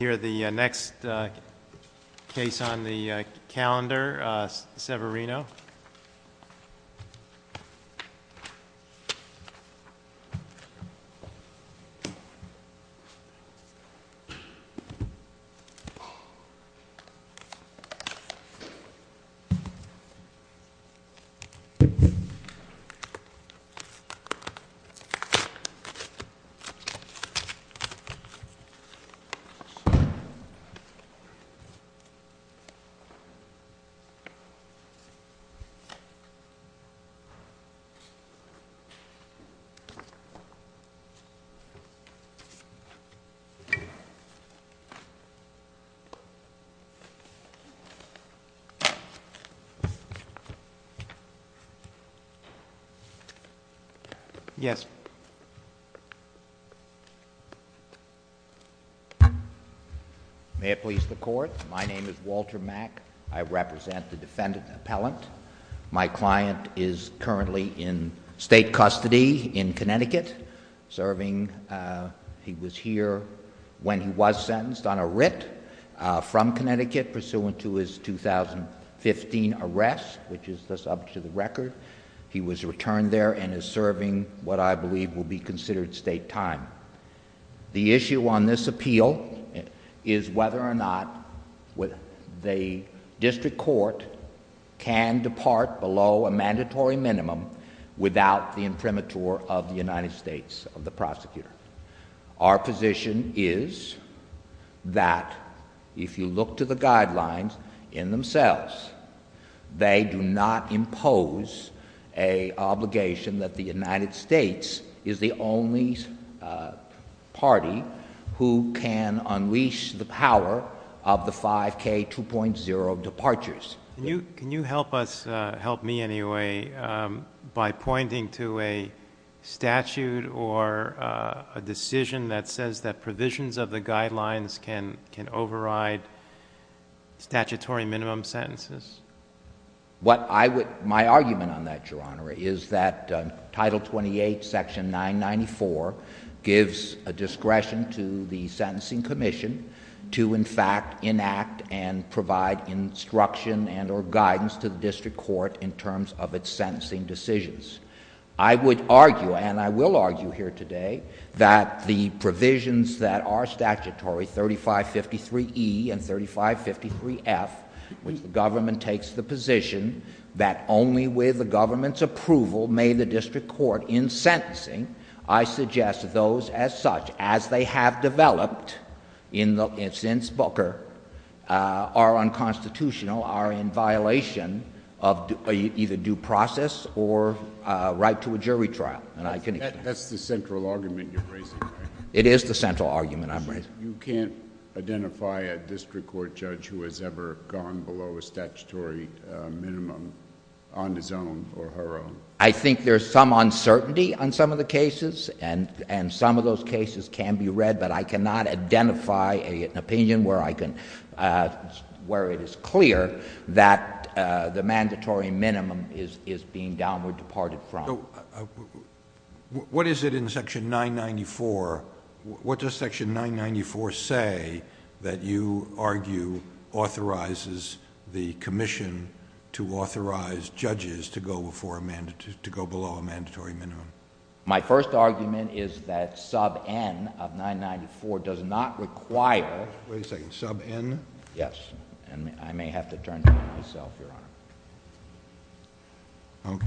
Here are the next, uh, case on the, uh, calendar, uh, Severino. Yes. May it please the court, my name is Walter Mack. I represent the defendant appellant. My client is currently in state custody in Connecticut, serving, he was here when he was sentenced on a writ from Connecticut pursuant to his 2015 arrest, which is the subject of the record. He was returned there and is serving what I believe will be considered state time. The issue on this appeal is whether or not the district court can depart below a mandatory minimum without the imprimatur of the United States of the prosecutor. Our position is that if you look to the guidelines in themselves, they do not impose a obligation that the United States is the only party who can unleash the power of the 5k 2.0 departures. Can you help us, help me anyway, by pointing to a statute or a decision that says that provisions of the guidelines can override statutory minimum sentences? What I would, my argument on that, Your Honor, is that Title 28, Section 994 gives a discretion to the Sentencing Commission to, in fact, enact and provide instruction and or guidance to the district court in terms of its sentencing decisions. I would argue, and I will argue here today, that the provisions that are statutory, 3553E and 3553F, which the government takes the position that only with the government's approval may the district court in sentencing, I suggest that those as such, as they have developed, in the instance Booker, are unconstitutional, are in violation of either due process or right to a jury trial. And I can explain. That's the central argument you're raising, right? It is the central argument I'm raising. You can't identify a district court judge who has ever gone below a statutory minimum on his own or her own. I think there's some uncertainty on some of the cases. And some of those cases can be read. But I cannot identify an opinion where it is clear that the mandatory minimum is being downward departed from. What is it in Section 994, what does Section 994 say that you argue authorizes the commission to authorize judges to go below a mandatory minimum? My first argument is that sub N of 994 does not require. Wait a second. Sub N? Yes. And I may have to turn to myself, Your Honor. OK.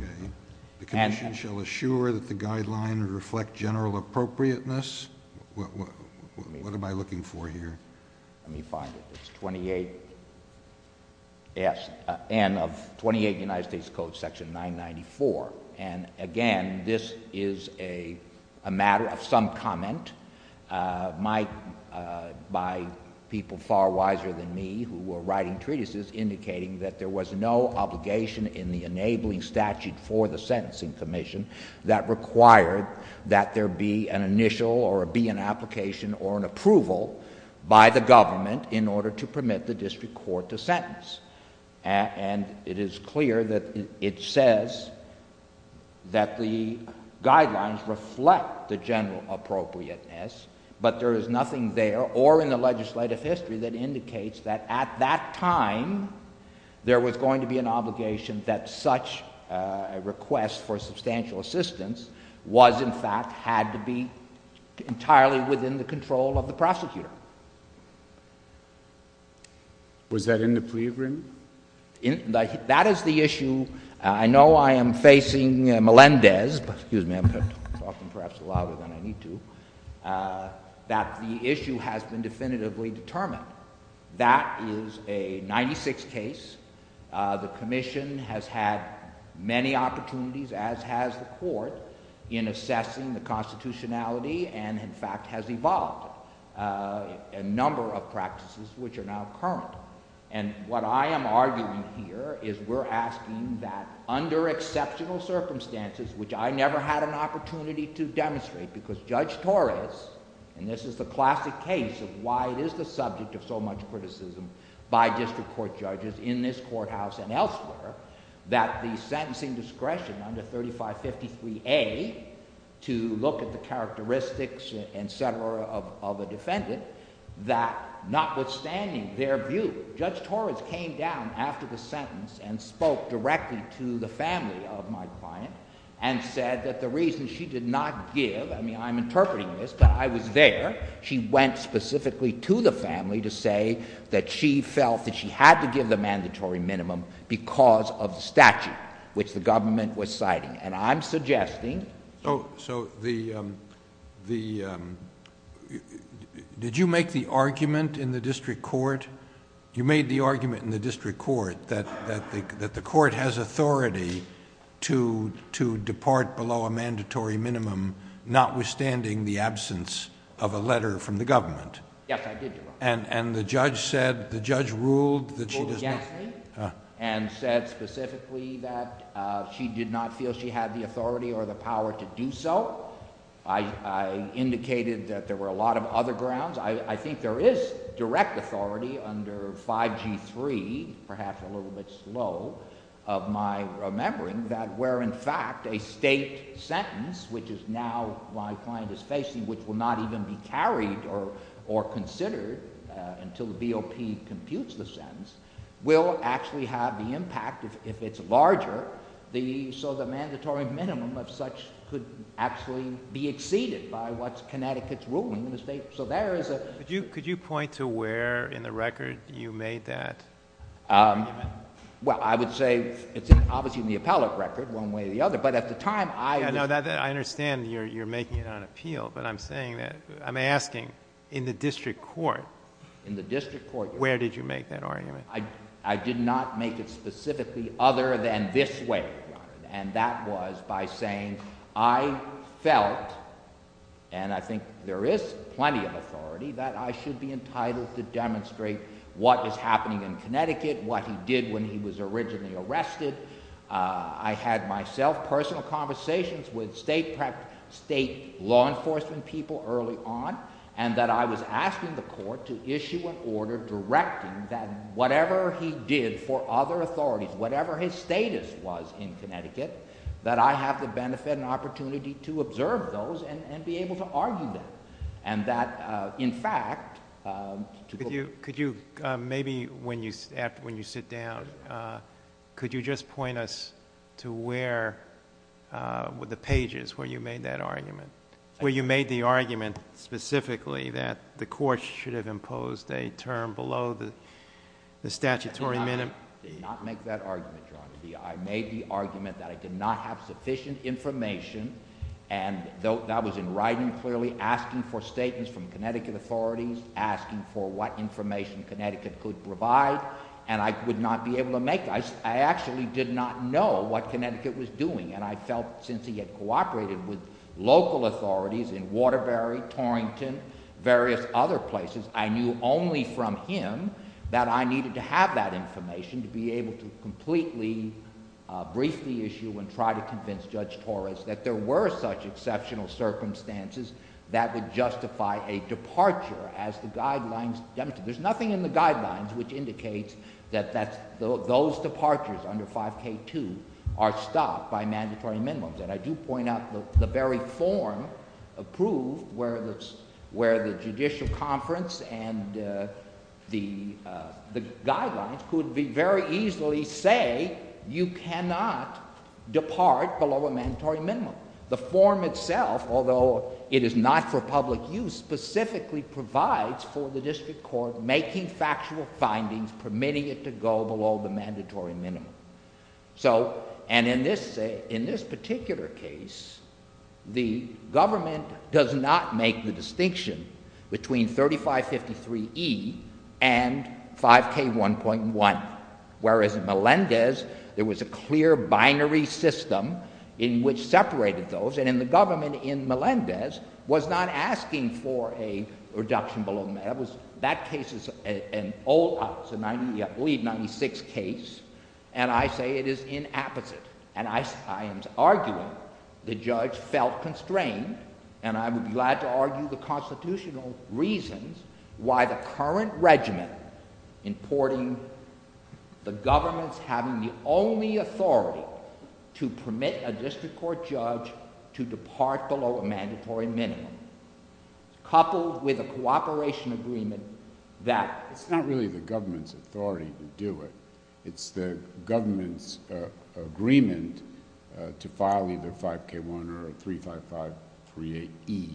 The commission shall assure that the guideline would reflect general appropriateness. What am I looking for here? Let me find it. It's 28 S N of 28 United States Code, Section 994. And again, this is a matter of some comment by people far wiser than me who were writing treatises indicating that there was no obligation in the enabling statute for the sentencing commission that required that there be an initial or be an application or an approval by the government in order to permit the district court to sentence. And it is clear that it says that the guidelines reflect the general appropriateness. But there is nothing there or in the legislative history that indicates that at that time, there was a request for substantial assistance, was, in fact, had to be entirely within the control of the prosecutor. Was that in the pre-agreement? That is the issue. I know I am facing Melendez, but excuse me, I'm talking perhaps louder than I need to, that the issue has been definitively determined. That is a 96 case. The commission has had many opportunities, as has the court, in assessing the constitutionality and, in fact, has evolved a number of practices which are now current. And what I am arguing here is we're asking that under exceptional circumstances, which I never had an opportunity to demonstrate because Judge Torres, and this is the classic case of why it is the subject of so much criticism by district court judges in this courthouse and elsewhere, that the sentencing discretion under 3553A to look at the characteristics, et cetera, of a defendant, that notwithstanding their view, Judge Torres came down after the sentence and spoke directly to the family of my client and said that the reason she did not give, I mean, I'm interpreting this, but I was there, she went specifically to the family to say that she felt that she had to give the mandatory minimum because of the statute which the government was citing. And I'm suggesting... Oh, so the, um, the, um... Did you make the argument in the district court, you made the argument in the district court that the court has authority to depart below a mandatory minimum, notwithstanding the absence of a letter from the government? Yes, I did, Your Honor. And the judge said, the judge ruled that she did not... Ruled against me and said specifically that she did not feel she had the authority or the power to do so. I indicated that there were a lot of other grounds. I think there is direct authority under 5G3, perhaps a little bit slow of my remembering, that where, in fact, a state sentence, which is now my client is facing, which will not even be carried or considered until the BOP computes the sentence, will actually have the impact, if it's larger, so the mandatory minimum of such could actually be exceeded by what Connecticut's ruling in the state. So there is a... Could you point to where in the record you made that argument? Well, I would say it's obviously in the appellate record, one way or the other, but at the time I... Yeah, now I understand you're making it on appeal, but I'm saying that... I'm asking, in the district court... In the district court, yes. Where did you make that argument? I did not make it specifically other than this way, and that was by saying I felt, and I think there is plenty of authority, that I should be entitled to demonstrate what is happening in Connecticut, what he did when he was originally arrested. I had myself personal conversations with state law enforcement people early on, and that I was asking the court to issue an order directing that whatever he did for other authorities, whatever his status was in Connecticut, that I have the benefit and opportunity to observe those and be able to argue them. And that, in fact, to the... Could you, maybe when you sit down, could you just point us to where, with the pages where you made that argument, where you made the argument specifically that the court should have imposed a term below the statutory minimum? Did not make that argument, Your Honor. I made the argument that I did not have sufficient information, and that was in writing clearly, asking for statements from Connecticut authorities, asking for what information Connecticut could provide, and I would not be able to make. I actually did not know what Connecticut was doing, and I felt since he had cooperated with local authorities in Waterbury, Torrington, various other places, I knew only from him that I needed to have that information to be able to completely brief the issue and try to convince Judge Torres that there were such exceptional circumstances that would justify a departure as the guidelines demonstrate. There's nothing in the guidelines which indicates that those departures under 5K2 are stopped by mandatory minimums, and I do point out the very form approved where the judicial conference and the guidelines could very easily say, you cannot depart below a mandatory minimum. The form itself, although it is not for public use, specifically provides for the district court making factual findings, permitting it to go below the mandatory minimum. So, and in this particular case, the government does not make the distinction between 3553E and 5K1.1, whereas in Melendez, there was a clear binary system in which separated those, and in the government in Melendez was not asking for a reduction below, that case is an old, I believe, 96 case, and I say it is inapposite, and I am arguing the judge felt constrained, and I would be glad to argue the constitutional reasons why the current regimen importing the government's having the only authority to permit a district court judge to depart below a mandatory minimum, coupled with a cooperation agreement that... It's not really the government's authority to do it, it's the government's agreement to file either 5K1 or 35538E,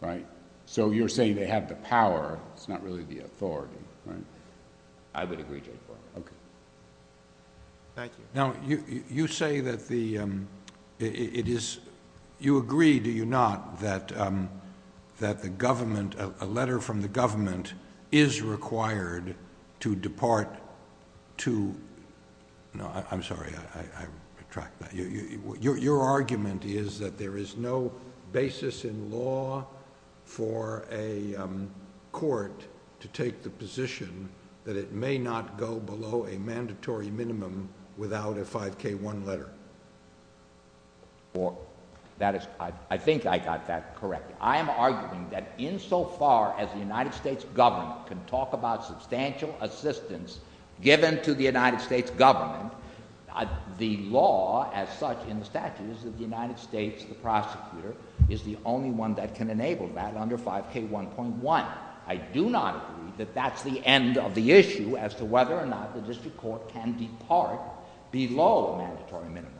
right? So you're saying they have the power, it's not really the authority, right? I would agree, Judge Barron. Okay. Thank you. Now, you say that the, it is, you agree, do you not, that the government, a letter from the government is required to depart to, no, I'm sorry, I retract that. Your argument is that there is no basis in law for a court to take the position that it may not go below a mandatory minimum without a 5K1 letter. Or that is, I think I got that correct. I am arguing that insofar as the United States government can talk about substantial assistance given to the United States government, the law as such in the statute is that the United States, the prosecutor, is the only one that can enable that under 5K1.1. I do not agree that that's the end of the issue as to whether or not the district court can depart below a mandatory minimum.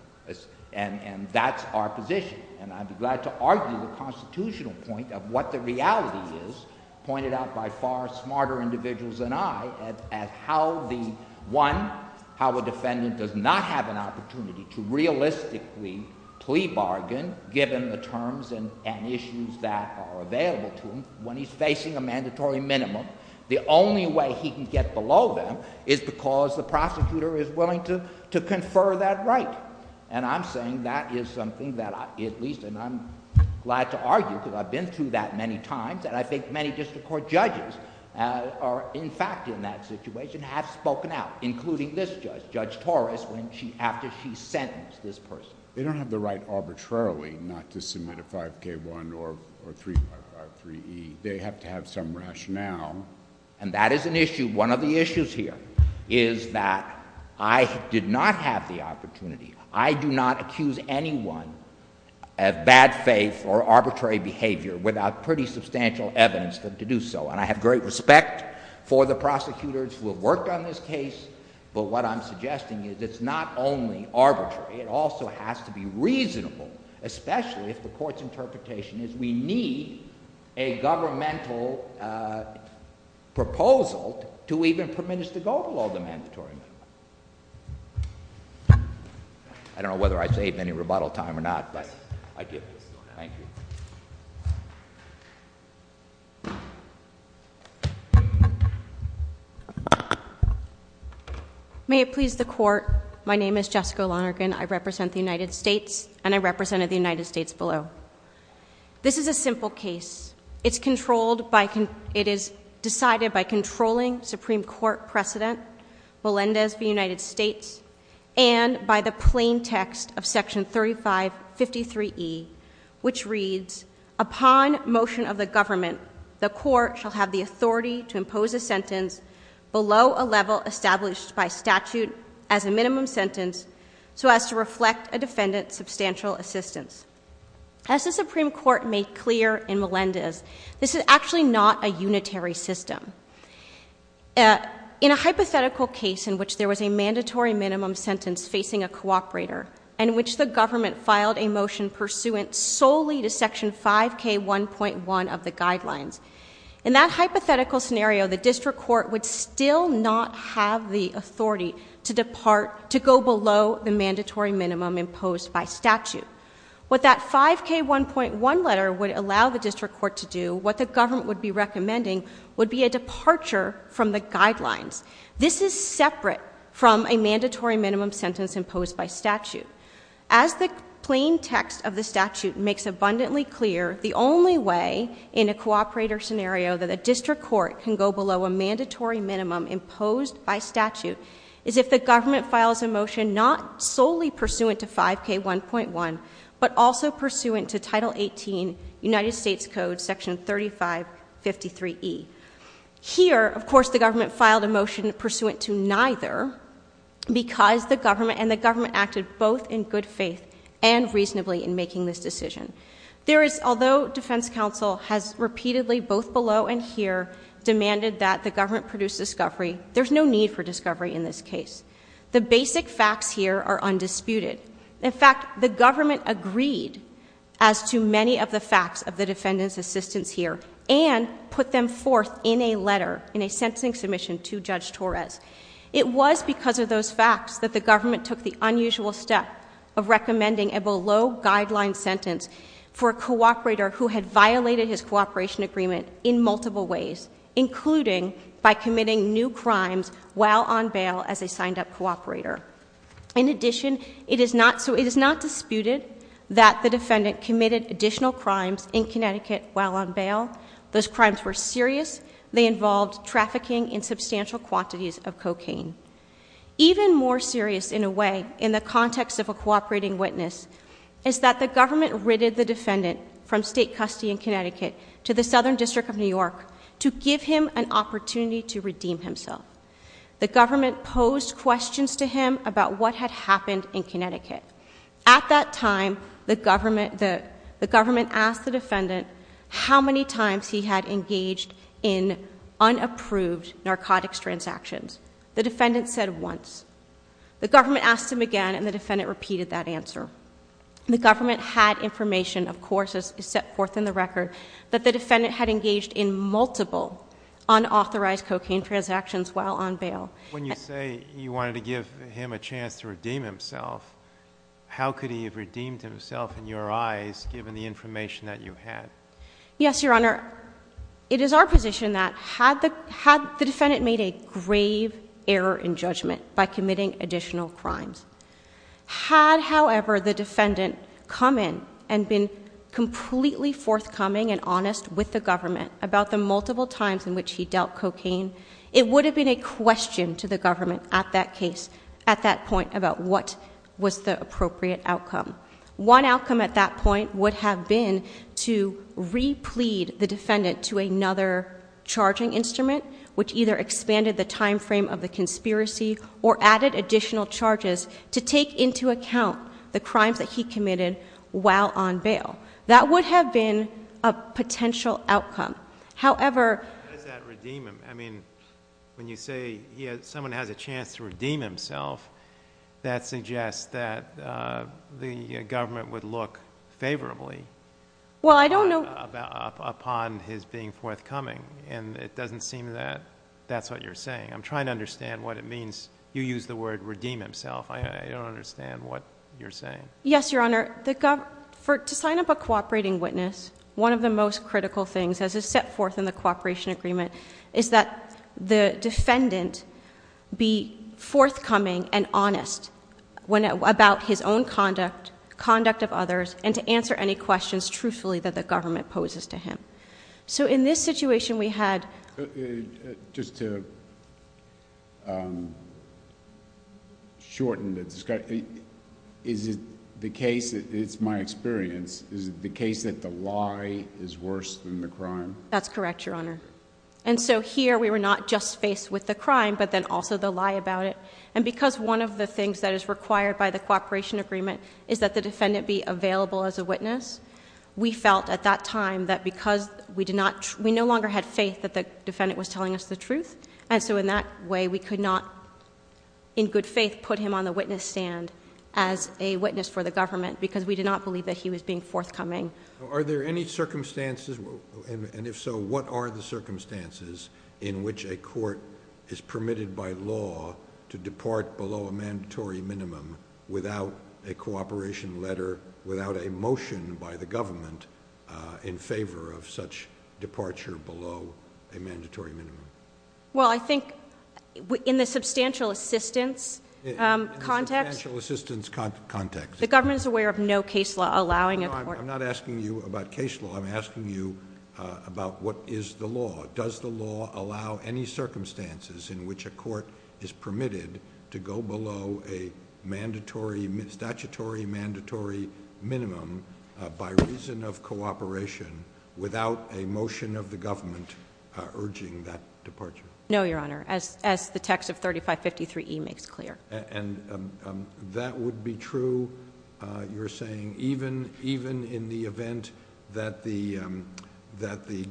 And that's our position. And I'd be glad to argue the constitutional point of what the reality is, pointed out by far smarter individuals than I, as how the, one, how a defendant does not have an opportunity to realistically plea bargain given the terms and issues that are available to him when he's facing a mandatory minimum. The only way he can get below them is because the prosecutor is willing to confer that right. And I'm saying that is something that I, at least, and I'm glad to argue because I've been through that many times, and I think many district court judges are in fact in that situation have spoken out, including this judge, Judge Torres, when she, after she sentenced this person. They don't have the right arbitrarily not to submit a 5K1 or 3E. They have to have some rationale. And that is an issue. One of the issues here is that I did not have the opportunity. I do not accuse anyone of bad faith or arbitrary behavior without pretty substantial evidence to do so. And I have great respect for the prosecutors who have worked on this case. But what I'm suggesting is it's not only arbitrary. It also has to be reasonable, especially if the court's interpretation is we need a governmental proposal to even permit us to go below the mandatory minimum. I don't know whether I saved any rebuttal time or not, but I give this. Thank you. May it please the court. My name is Jessica Lonergan. I represent the United States, and I represented the United States below. This is a simple case. It's controlled by, it is decided by controlling Supreme Court precedent, Melendez v. United States, and by the plain text of section 3553E, which reads, upon motion of the government, the court shall have the authority to impose a sentence below a level established by statute as a minimum sentence so as to reflect a defendant's substantial assistance. As the Supreme Court made clear in Melendez, this is actually not a unitary system. In a hypothetical case in which there was a mandatory minimum sentence facing a cooperator and which the government filed a motion pursuant solely to section 5K1.1 of the guidelines, in that hypothetical scenario, the district court would still not have the authority to go below the mandatory minimum imposed by statute. What that 5K1.1 letter would allow the district court to do, what the government would be recommending, would be a departure from the guidelines. This is separate from a mandatory minimum sentence imposed by statute. As the plain text of the statute makes abundantly clear, the only way in a cooperator scenario that a district court can go below a mandatory minimum imposed by statute is if the government files a motion not solely pursuant to 5K1.1, but also pursuant to Title 18, United States Code Section 3553E. Here, of course, the government filed a motion pursuant to neither because the government and the government acted both in good faith and reasonably in making this decision. There is, although defense counsel has repeatedly, both below and here, demanded that the government produce discovery, there's no need for discovery in this case. The basic facts here are undisputed. In fact, the government agreed as to many of the facts of the defendant's assistance here and put them forth in a letter, in a sentencing submission to Judge Torres. It was because of those facts that the government took the unusual step of recommending a below guideline sentence for a cooperator who had violated his cooperation agreement in multiple ways, including by committing new crimes while on bail as a signed up cooperator. In addition, it is not disputed that the defendant committed additional crimes in Connecticut while on bail. Those crimes were serious. They involved trafficking in substantial quantities of cocaine. Even more serious, in a way, is that the government ridded the defendant from state custody in Connecticut to the Southern District of New York to give him an opportunity to redeem himself. The government posed questions to him about what had happened in Connecticut. At that time, the government asked the defendant how many times he had engaged in unapproved narcotics transactions. The defendant said once. The government asked him again and the defendant repeated that answer. The government had information, of course, set forth in the record that the defendant had engaged in multiple unauthorized cocaine transactions while on bail. When you say you wanted to give him a chance to redeem himself, how could he have redeemed himself in your eyes given the information that you had? Yes, Your Honor. It is our position that had the defendant made a grave error in judgment by committing additional crimes, had, however, the defendant come in and been completely forthcoming and honest with the government about the multiple times in which he dealt cocaine, it would have been a question to the government at that case, at that point, about what was the appropriate outcome. One outcome at that point would have been to replead the defendant to another charging instrument which either expanded the timeframe of the conspiracy or added additional charges to take into account the crimes that he committed while on bail. That would have been a potential outcome. However- How does that redeem him? I mean, when you say someone has a chance to redeem himself, that suggests that the government would look favorably upon his being forthcoming, and it doesn't seem that that's what you're saying. I'm trying to understand what it means. You used the word redeem himself. I don't understand what you're saying. Yes, Your Honor, to sign up a cooperating witness, one of the most critical things, as is set forth in the cooperation agreement, is that the defendant be forthcoming and honest about his own conduct, conduct of others, and to answer any questions truthfully that the government poses to him. So in this situation, we had- Just to shorten the discussion, is it the case, it's my experience, is it the case that the lie is worse than the crime? That's correct, Your Honor. And so here we were not just faced with the crime, but then also the lie about it. And because one of the things that is required by the cooperation agreement is that the defendant be available as a witness, we felt at that time that because we no longer had faith that the defendant was telling us the truth. And so in that way, we could not, in good faith, put him on the witness stand as a witness for the government because we did not believe that he was being forthcoming. Are there any circumstances, and if so, what are the circumstances in which a court is permitted by law to depart below a mandatory minimum without a cooperation letter, without a motion by the government in favor of such departure below a mandatory minimum? Well, I think in the substantial assistance context- Substantial assistance context. The government is aware of no case law allowing a court- No, I'm not asking you about case law, I'm asking you about what is the law. Does the law allow any circumstances in which a court is permitted to go below a statutory mandatory minimum by reason of cooperation without a motion of the government urging that departure? No, Your Honor, as the text of 3553E makes clear. And that would be true, you're saying, even in the event that the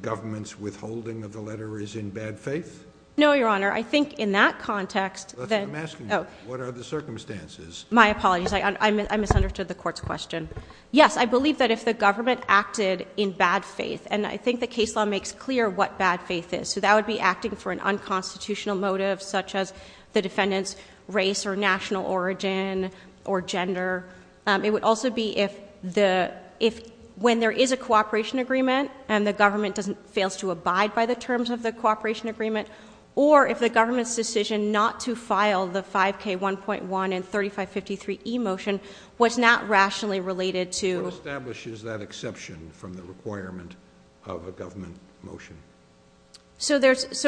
government's withholding of the letter is in bad faith? No, Your Honor, I think in that context- I'm asking you, what are the circumstances? My apologies, I misunderstood the court's question. Yes, I believe that if the government acted in bad faith, and I think the case law makes clear what bad faith is, so that would be acting for an unconstitutional motive such as the defendant's race or national origin or gender. It would also be if when there is a cooperation agreement and the government fails to abide by the terms of the cooperation agreement, or if the government's decision not to file the 5K1.1 and 3553E motion was not rationally related to- What establishes that exception from the requirement of a government motion? So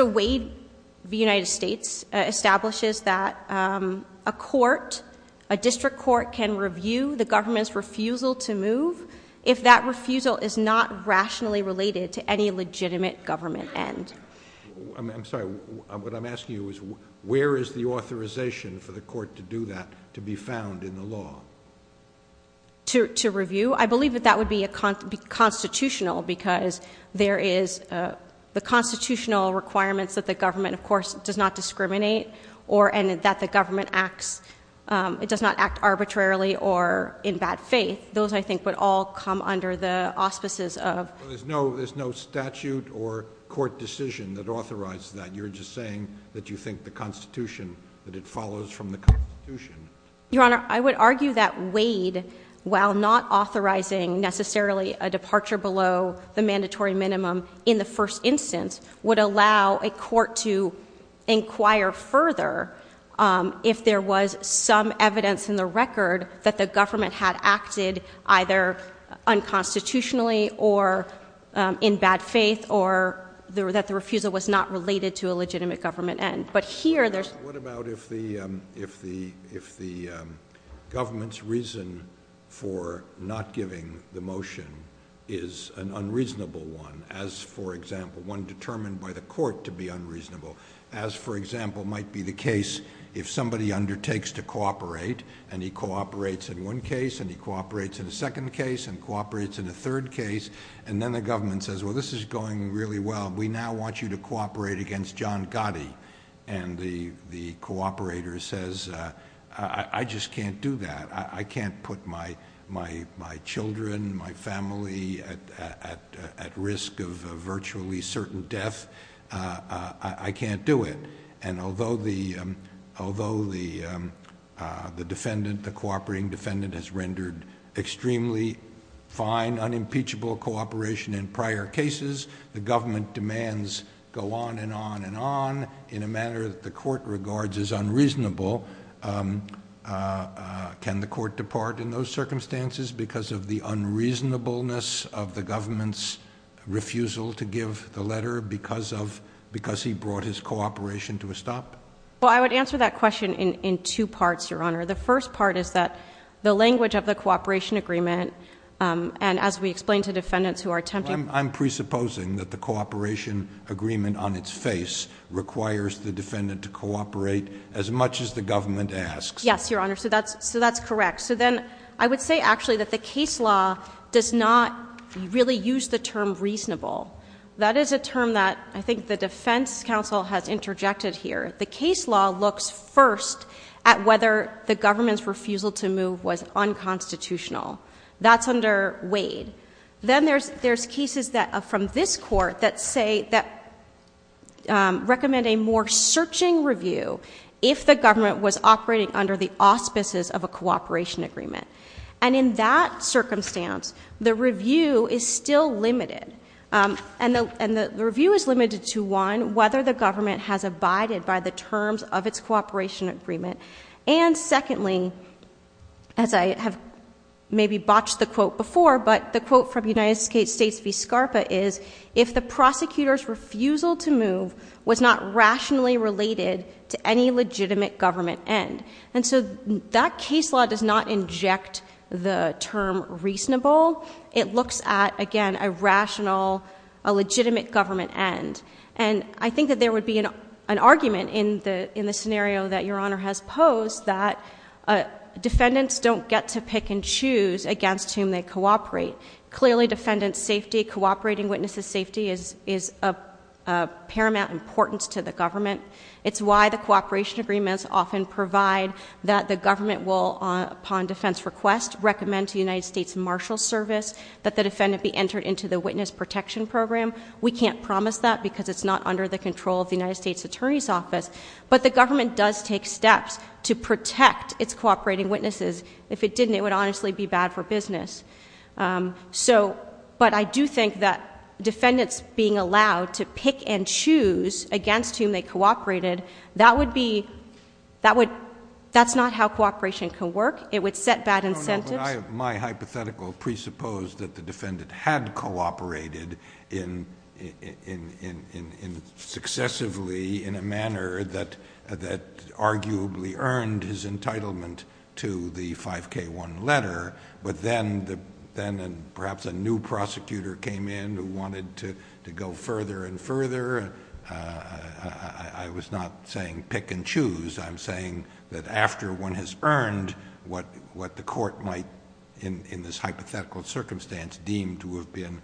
Wade v. United States establishes that a court, a district court can review the government's refusal to move if that refusal is not rationally related to any legitimate government end. I'm sorry, what I'm asking you is, where is the authorization for the court to do that, to be found in the law? To review? I believe that that would be constitutional because there is the constitutional requirements that the government, of course, does not discriminate or that the government acts, it does not act arbitrarily or in bad faith. Those, I think, would all come under the auspices of- There's no statute or court decision that authorizes that. You're just saying that you think the Constitution, that it follows from the Constitution. Your Honor, I would argue that Wade, while not authorizing necessarily a departure below the mandatory minimum in the first instance, would allow a court to inquire further if there was some evidence in the record that the government had acted either unconstitutionally or in bad faith or that the refusal was not related to a legitimate government end. But here, there's- What about if the government's reason for not giving the motion is an unreasonable one, as, for example, one determined by the court to be unreasonable, as, for example, might be the case if somebody undertakes to cooperate and he cooperates in one case and he cooperates in a second case and cooperates in a third case, and then the government says, well, this is going really well. We now want you to cooperate against John Gotti. And the cooperator says, I just can't do that. I can't put my children, my family at risk of virtually certain death. I can't do it. And although the defendant, the cooperating defendant has rendered extremely fine, unimpeachable cooperation in prior cases, the government demands go on and on and on in a manner that the court regards as unreasonable. Can the court depart in those circumstances because of the unreasonableness of the government's refusal to give the letter because he brought his cooperation to a stop? Well, I would answer that question in two parts, Your Honor. The first part is that the language of the cooperation agreement, and as we explained to defendants who are attempting- I'm presupposing that the cooperation agreement on its face requires the defendant to cooperate as much as the government asks. Yes, Your Honor, so that's correct. So then I would say actually that the case law does not really use the term reasonable. That is a term that I think the defense counsel has interjected here. The case law looks first at whether the government's refusal to move was unconstitutional. That's under Wade. Then there's cases from this court that recommend a more searching review if the government was operating under the auspices of a cooperation agreement. And in that circumstance, the review is still limited. And the review is limited to one, whether the government has abided by the terms of its cooperation agreement. And secondly, as I have maybe botched the quote before, but the quote from United States v. Scarpa is, if the prosecutor's refusal to move was not rationally related to any legitimate government end. And so that case law does not inject the term reasonable. It looks at, again, a rational, a legitimate government end. And I think that there would be an argument in the scenario that Your Honor has posed that defendants don't get to pick and choose against whom they cooperate. Clearly, defendant safety, cooperating witnesses' safety is of paramount importance to the government. It's why the cooperation agreements often provide that the government will, upon defense request, recommend to the United States Marshal Service that the defendant be entered into the Witness Protection Program. We can't promise that because it's not under the control of the United States Attorney's Office. But the government does take steps to protect its cooperating witnesses. If it didn't, it would honestly be bad for business. But I do think that defendants being allowed to pick and choose against whom they cooperated, that would be, that's not how cooperation can work. It would set bad incentives. My hypothetical presupposed that the defendant had cooperated successively in a manner that arguably earned his entitlement to the 5K1 letter. But then, perhaps a new prosecutor came in who wanted to go further and further. I was not saying pick and choose. I'm saying that after one has earned what the court might, in this hypothetical circumstance, deem to have been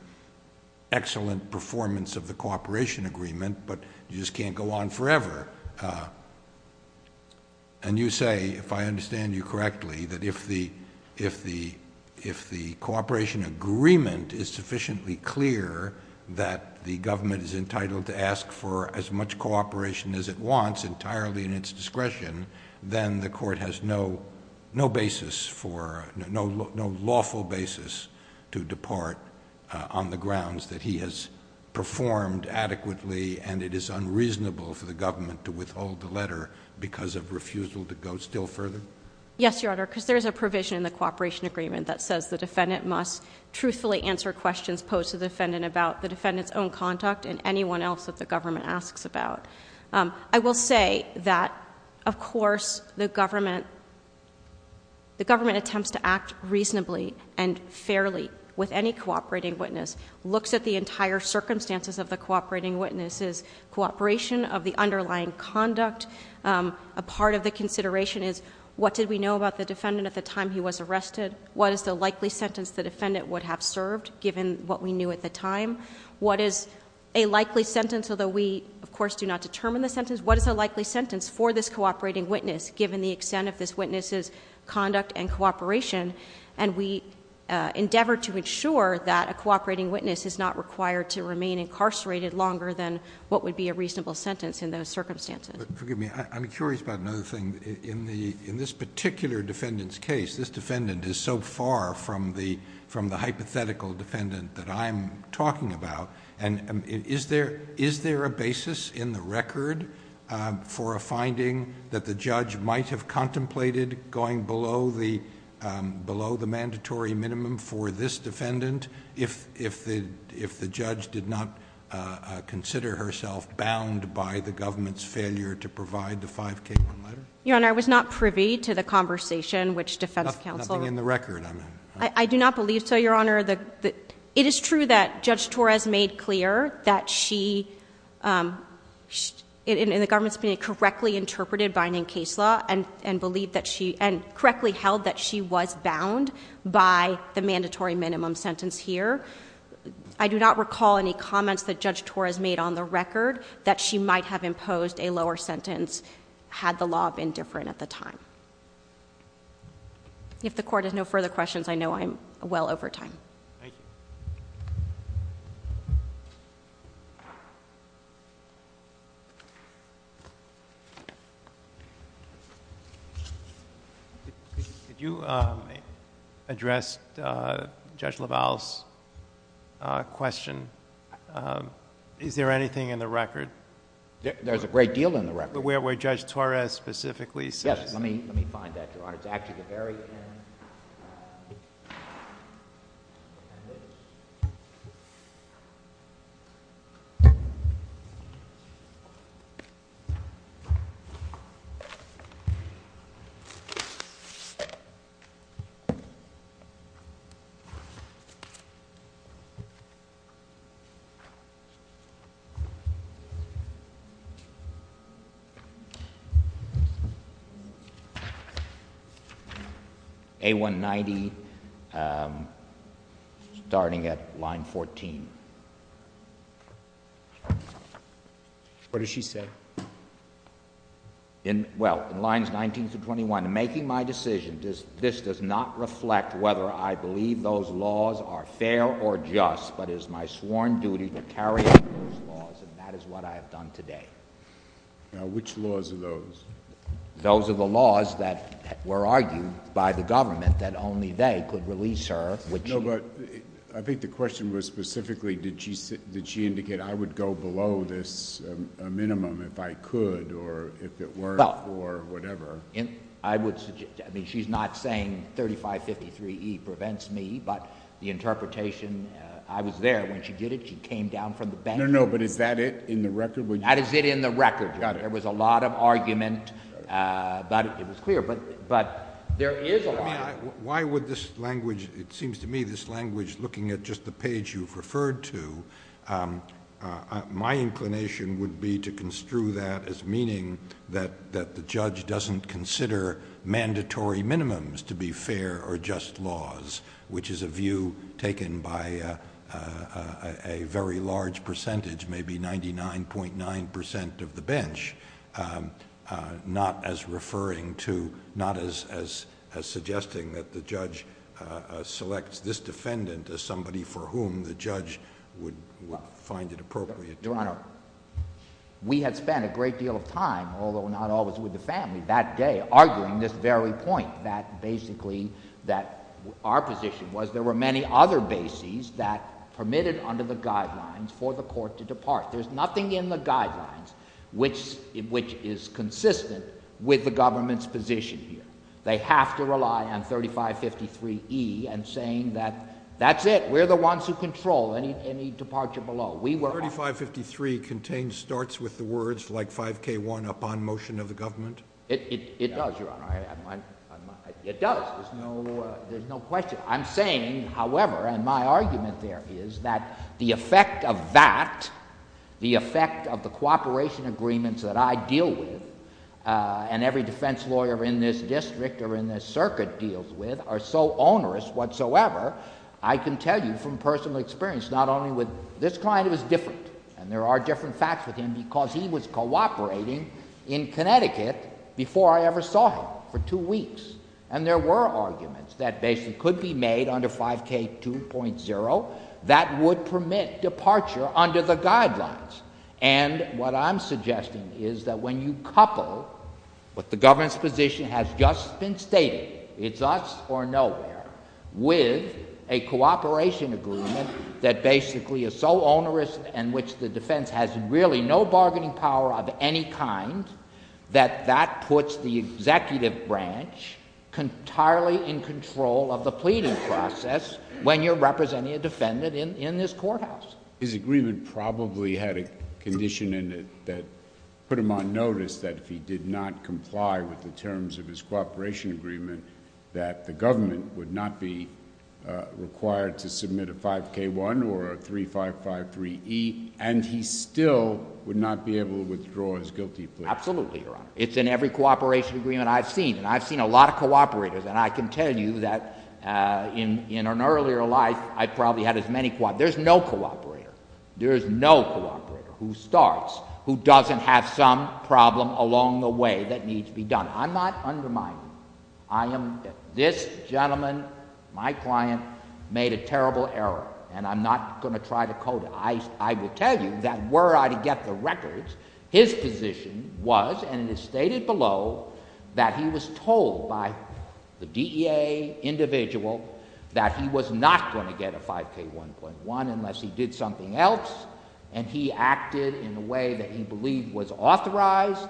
excellent performance of the cooperation agreement, but you just can't go on forever. And you say, if I understand you correctly, that if the cooperation agreement is sufficiently clear that the government is entitled to ask for as much cooperation as it wants entirely in its discretion, then the court has no basis for, no lawful basis to depart on the grounds that he has performed adequately and it is unreasonable for the government to withhold the letter because of refusal to go still further? Yes, Your Honor, because there's a provision in the cooperation agreement that says the defendant must truthfully answer questions posed to the defendant about the defendant's own conduct and anyone else that the government asks about. I will say that, of course, the government attempts to act reasonably and fairly with any cooperating witness, looks at the entire circumstances of the cooperating witness's cooperation of the underlying conduct. A part of the consideration is, what did we know about the defendant at the time he was arrested? What is the likely sentence the defendant would have served given what we knew at the time? What is a likely sentence, although we, of course, do not determine the sentence, what is a likely sentence for this cooperating witness given the extent of this witness's conduct and cooperation? And we endeavor to ensure that a cooperating witness is not required to remain incarcerated longer than what would be a reasonable sentence in those circumstances. But forgive me, I'm curious about another thing. In this particular defendant's case, this defendant is so far from the hypothetical defendant that I'm talking about. And is there a basis in the record for a finding that the judge might have contemplated going below the mandatory minimum for this defendant if the judge did not consider herself bound by the government's failure to provide the 5K1 letter? Your Honor, I was not privy to the conversation which defense counsel. Nothing in the record, I mean. I do not believe so, Your Honor. It is true that Judge Torres made clear that she, in the government's opinion, correctly interpreted binding case law and correctly held that she was bound by the mandatory minimum sentence here. I do not recall any comments that Judge Torres made on the record that she might have imposed a lower sentence had the law been different at the time. If the court has no further questions, I know I'm well over time. Thank you. Thank you. Did you address Judge LaValle's question? Is there anything in the record? There's a great deal in the record. Where Judge Torres specifically says. Yes, let me find that, Your Honor. It's actually the very end. A-190, starting at line 14. What does she say? Well, in lines 19 through 21, in making my decision, this does not reflect whether I believe those laws are fair or just, but it is my sworn duty to carry out those laws, and that is what I have done today. Now, which laws are those? Those are the laws that were argued by the government that only they could release her. I think the question was specifically, did she indicate, I would go below this minimum if I could, or if it worked, or whatever. I would suggest, I mean, she's not saying 3553E prevents me, but the interpretation, I was there when she did it. She came down from the bank. No, no, but is that it in the record? That is it in the record. Got it. There was a lot of argument, but it was clear. Why would this language, it seems to me, this language looking at just the page you've referred to, my inclination would be to construe that as meaning that the judge doesn't consider mandatory minimums to be fair or just laws, which is a view taken by a very large percentage, maybe 99.9% of the bench, not as suggesting that the judge selects this defendant as somebody for whom the judge would find it appropriate. Your Honor, we had spent a great deal of time, although not always with the family, that day, arguing this very point that basically our position was there were many other bases that permitted under the guidelines for the court to depart. There's nothing in the guidelines which is consistent with the government's position here. They have to rely on 3553E and saying that that's it. We're the ones who control any departure below. 3553 contains starts with the words like 5K1 upon motion of the government? It does, Your Honor. It does. There's no question. I'm saying, however, and my argument there is that the effect of that, the effect of the cooperation agreements that I deal with and every defense lawyer in this district or in this circuit deals with, are so onerous whatsoever, I can tell you from personal experience, not only with this client, it was different. And there are different facts with him because he was cooperating in Connecticut before I ever saw him for two weeks. And there were arguments that basically could be made under 5K2.0 that would permit departure under the guidelines. And what I'm suggesting is that when you couple what the government's position has just been stated, it's us or nowhere, with a cooperation agreement that basically is so onerous in which the defense has really no bargaining power of any kind that that puts the executive branch entirely in control of the pleading process when you're representing a defendant in this courthouse. His agreement probably had a condition in it that put him on notice that if he did not comply with the terms of his cooperation agreement that the government would not be required to submit a 5K1 or a 3553E and he still would not be able to withdraw his guilty plea. Absolutely, Your Honor. It's in every cooperation agreement I've seen, and I've seen a lot of cooperators, and I can tell you that in an earlier life I probably had as many cooperators. There's no cooperator, there's no cooperator who starts, who doesn't have some problem along the way that needs to be done. I'm not undermining you. This gentleman, my client, made a terrible error, and I'm not going to try to code it. I will tell you that were I to get the records, his position was, and it is stated below, that he was told by the DEA individual that he was not going to get a 5K1.1 unless he did something else, and he acted in a way that he believed was authorized.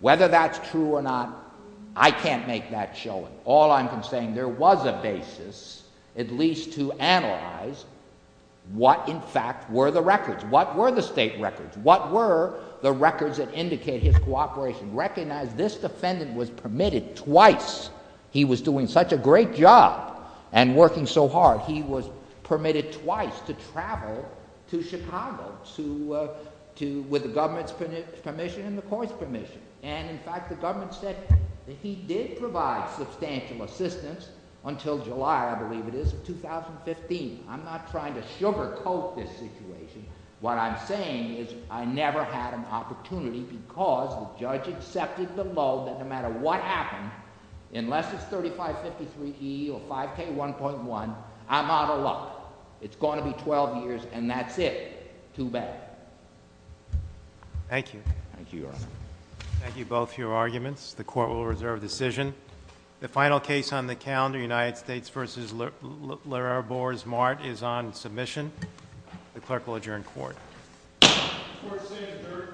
Whether that's true or not, I can't make that showing. All I'm saying, there was a basis at least to analyze what, in fact, were the records. What were the state records? What were the records that indicate his cooperation? Recognize this defendant was permitted twice. He was doing such a great job and working so hard, he was permitted twice to travel to Chicago with the government's permission and the court's permission. And, in fact, the government said that he did provide substantial assistance until July, I believe it is, of 2015. I'm not trying to sugarcoat this situation. What I'm saying is I never had an opportunity because the judge accepted below that no matter what happened, unless it's 3553E or 5K1.1, I'm out of luck. It's going to be 12 years, and that's it. Too bad. Thank you. Thank you, Your Honor. Thank you, both, for your arguments. The court will reserve decision. The final case on the calendar, United States v. Larrabour's Mart, is on submission. The clerk will adjourn court. Court is adjourned.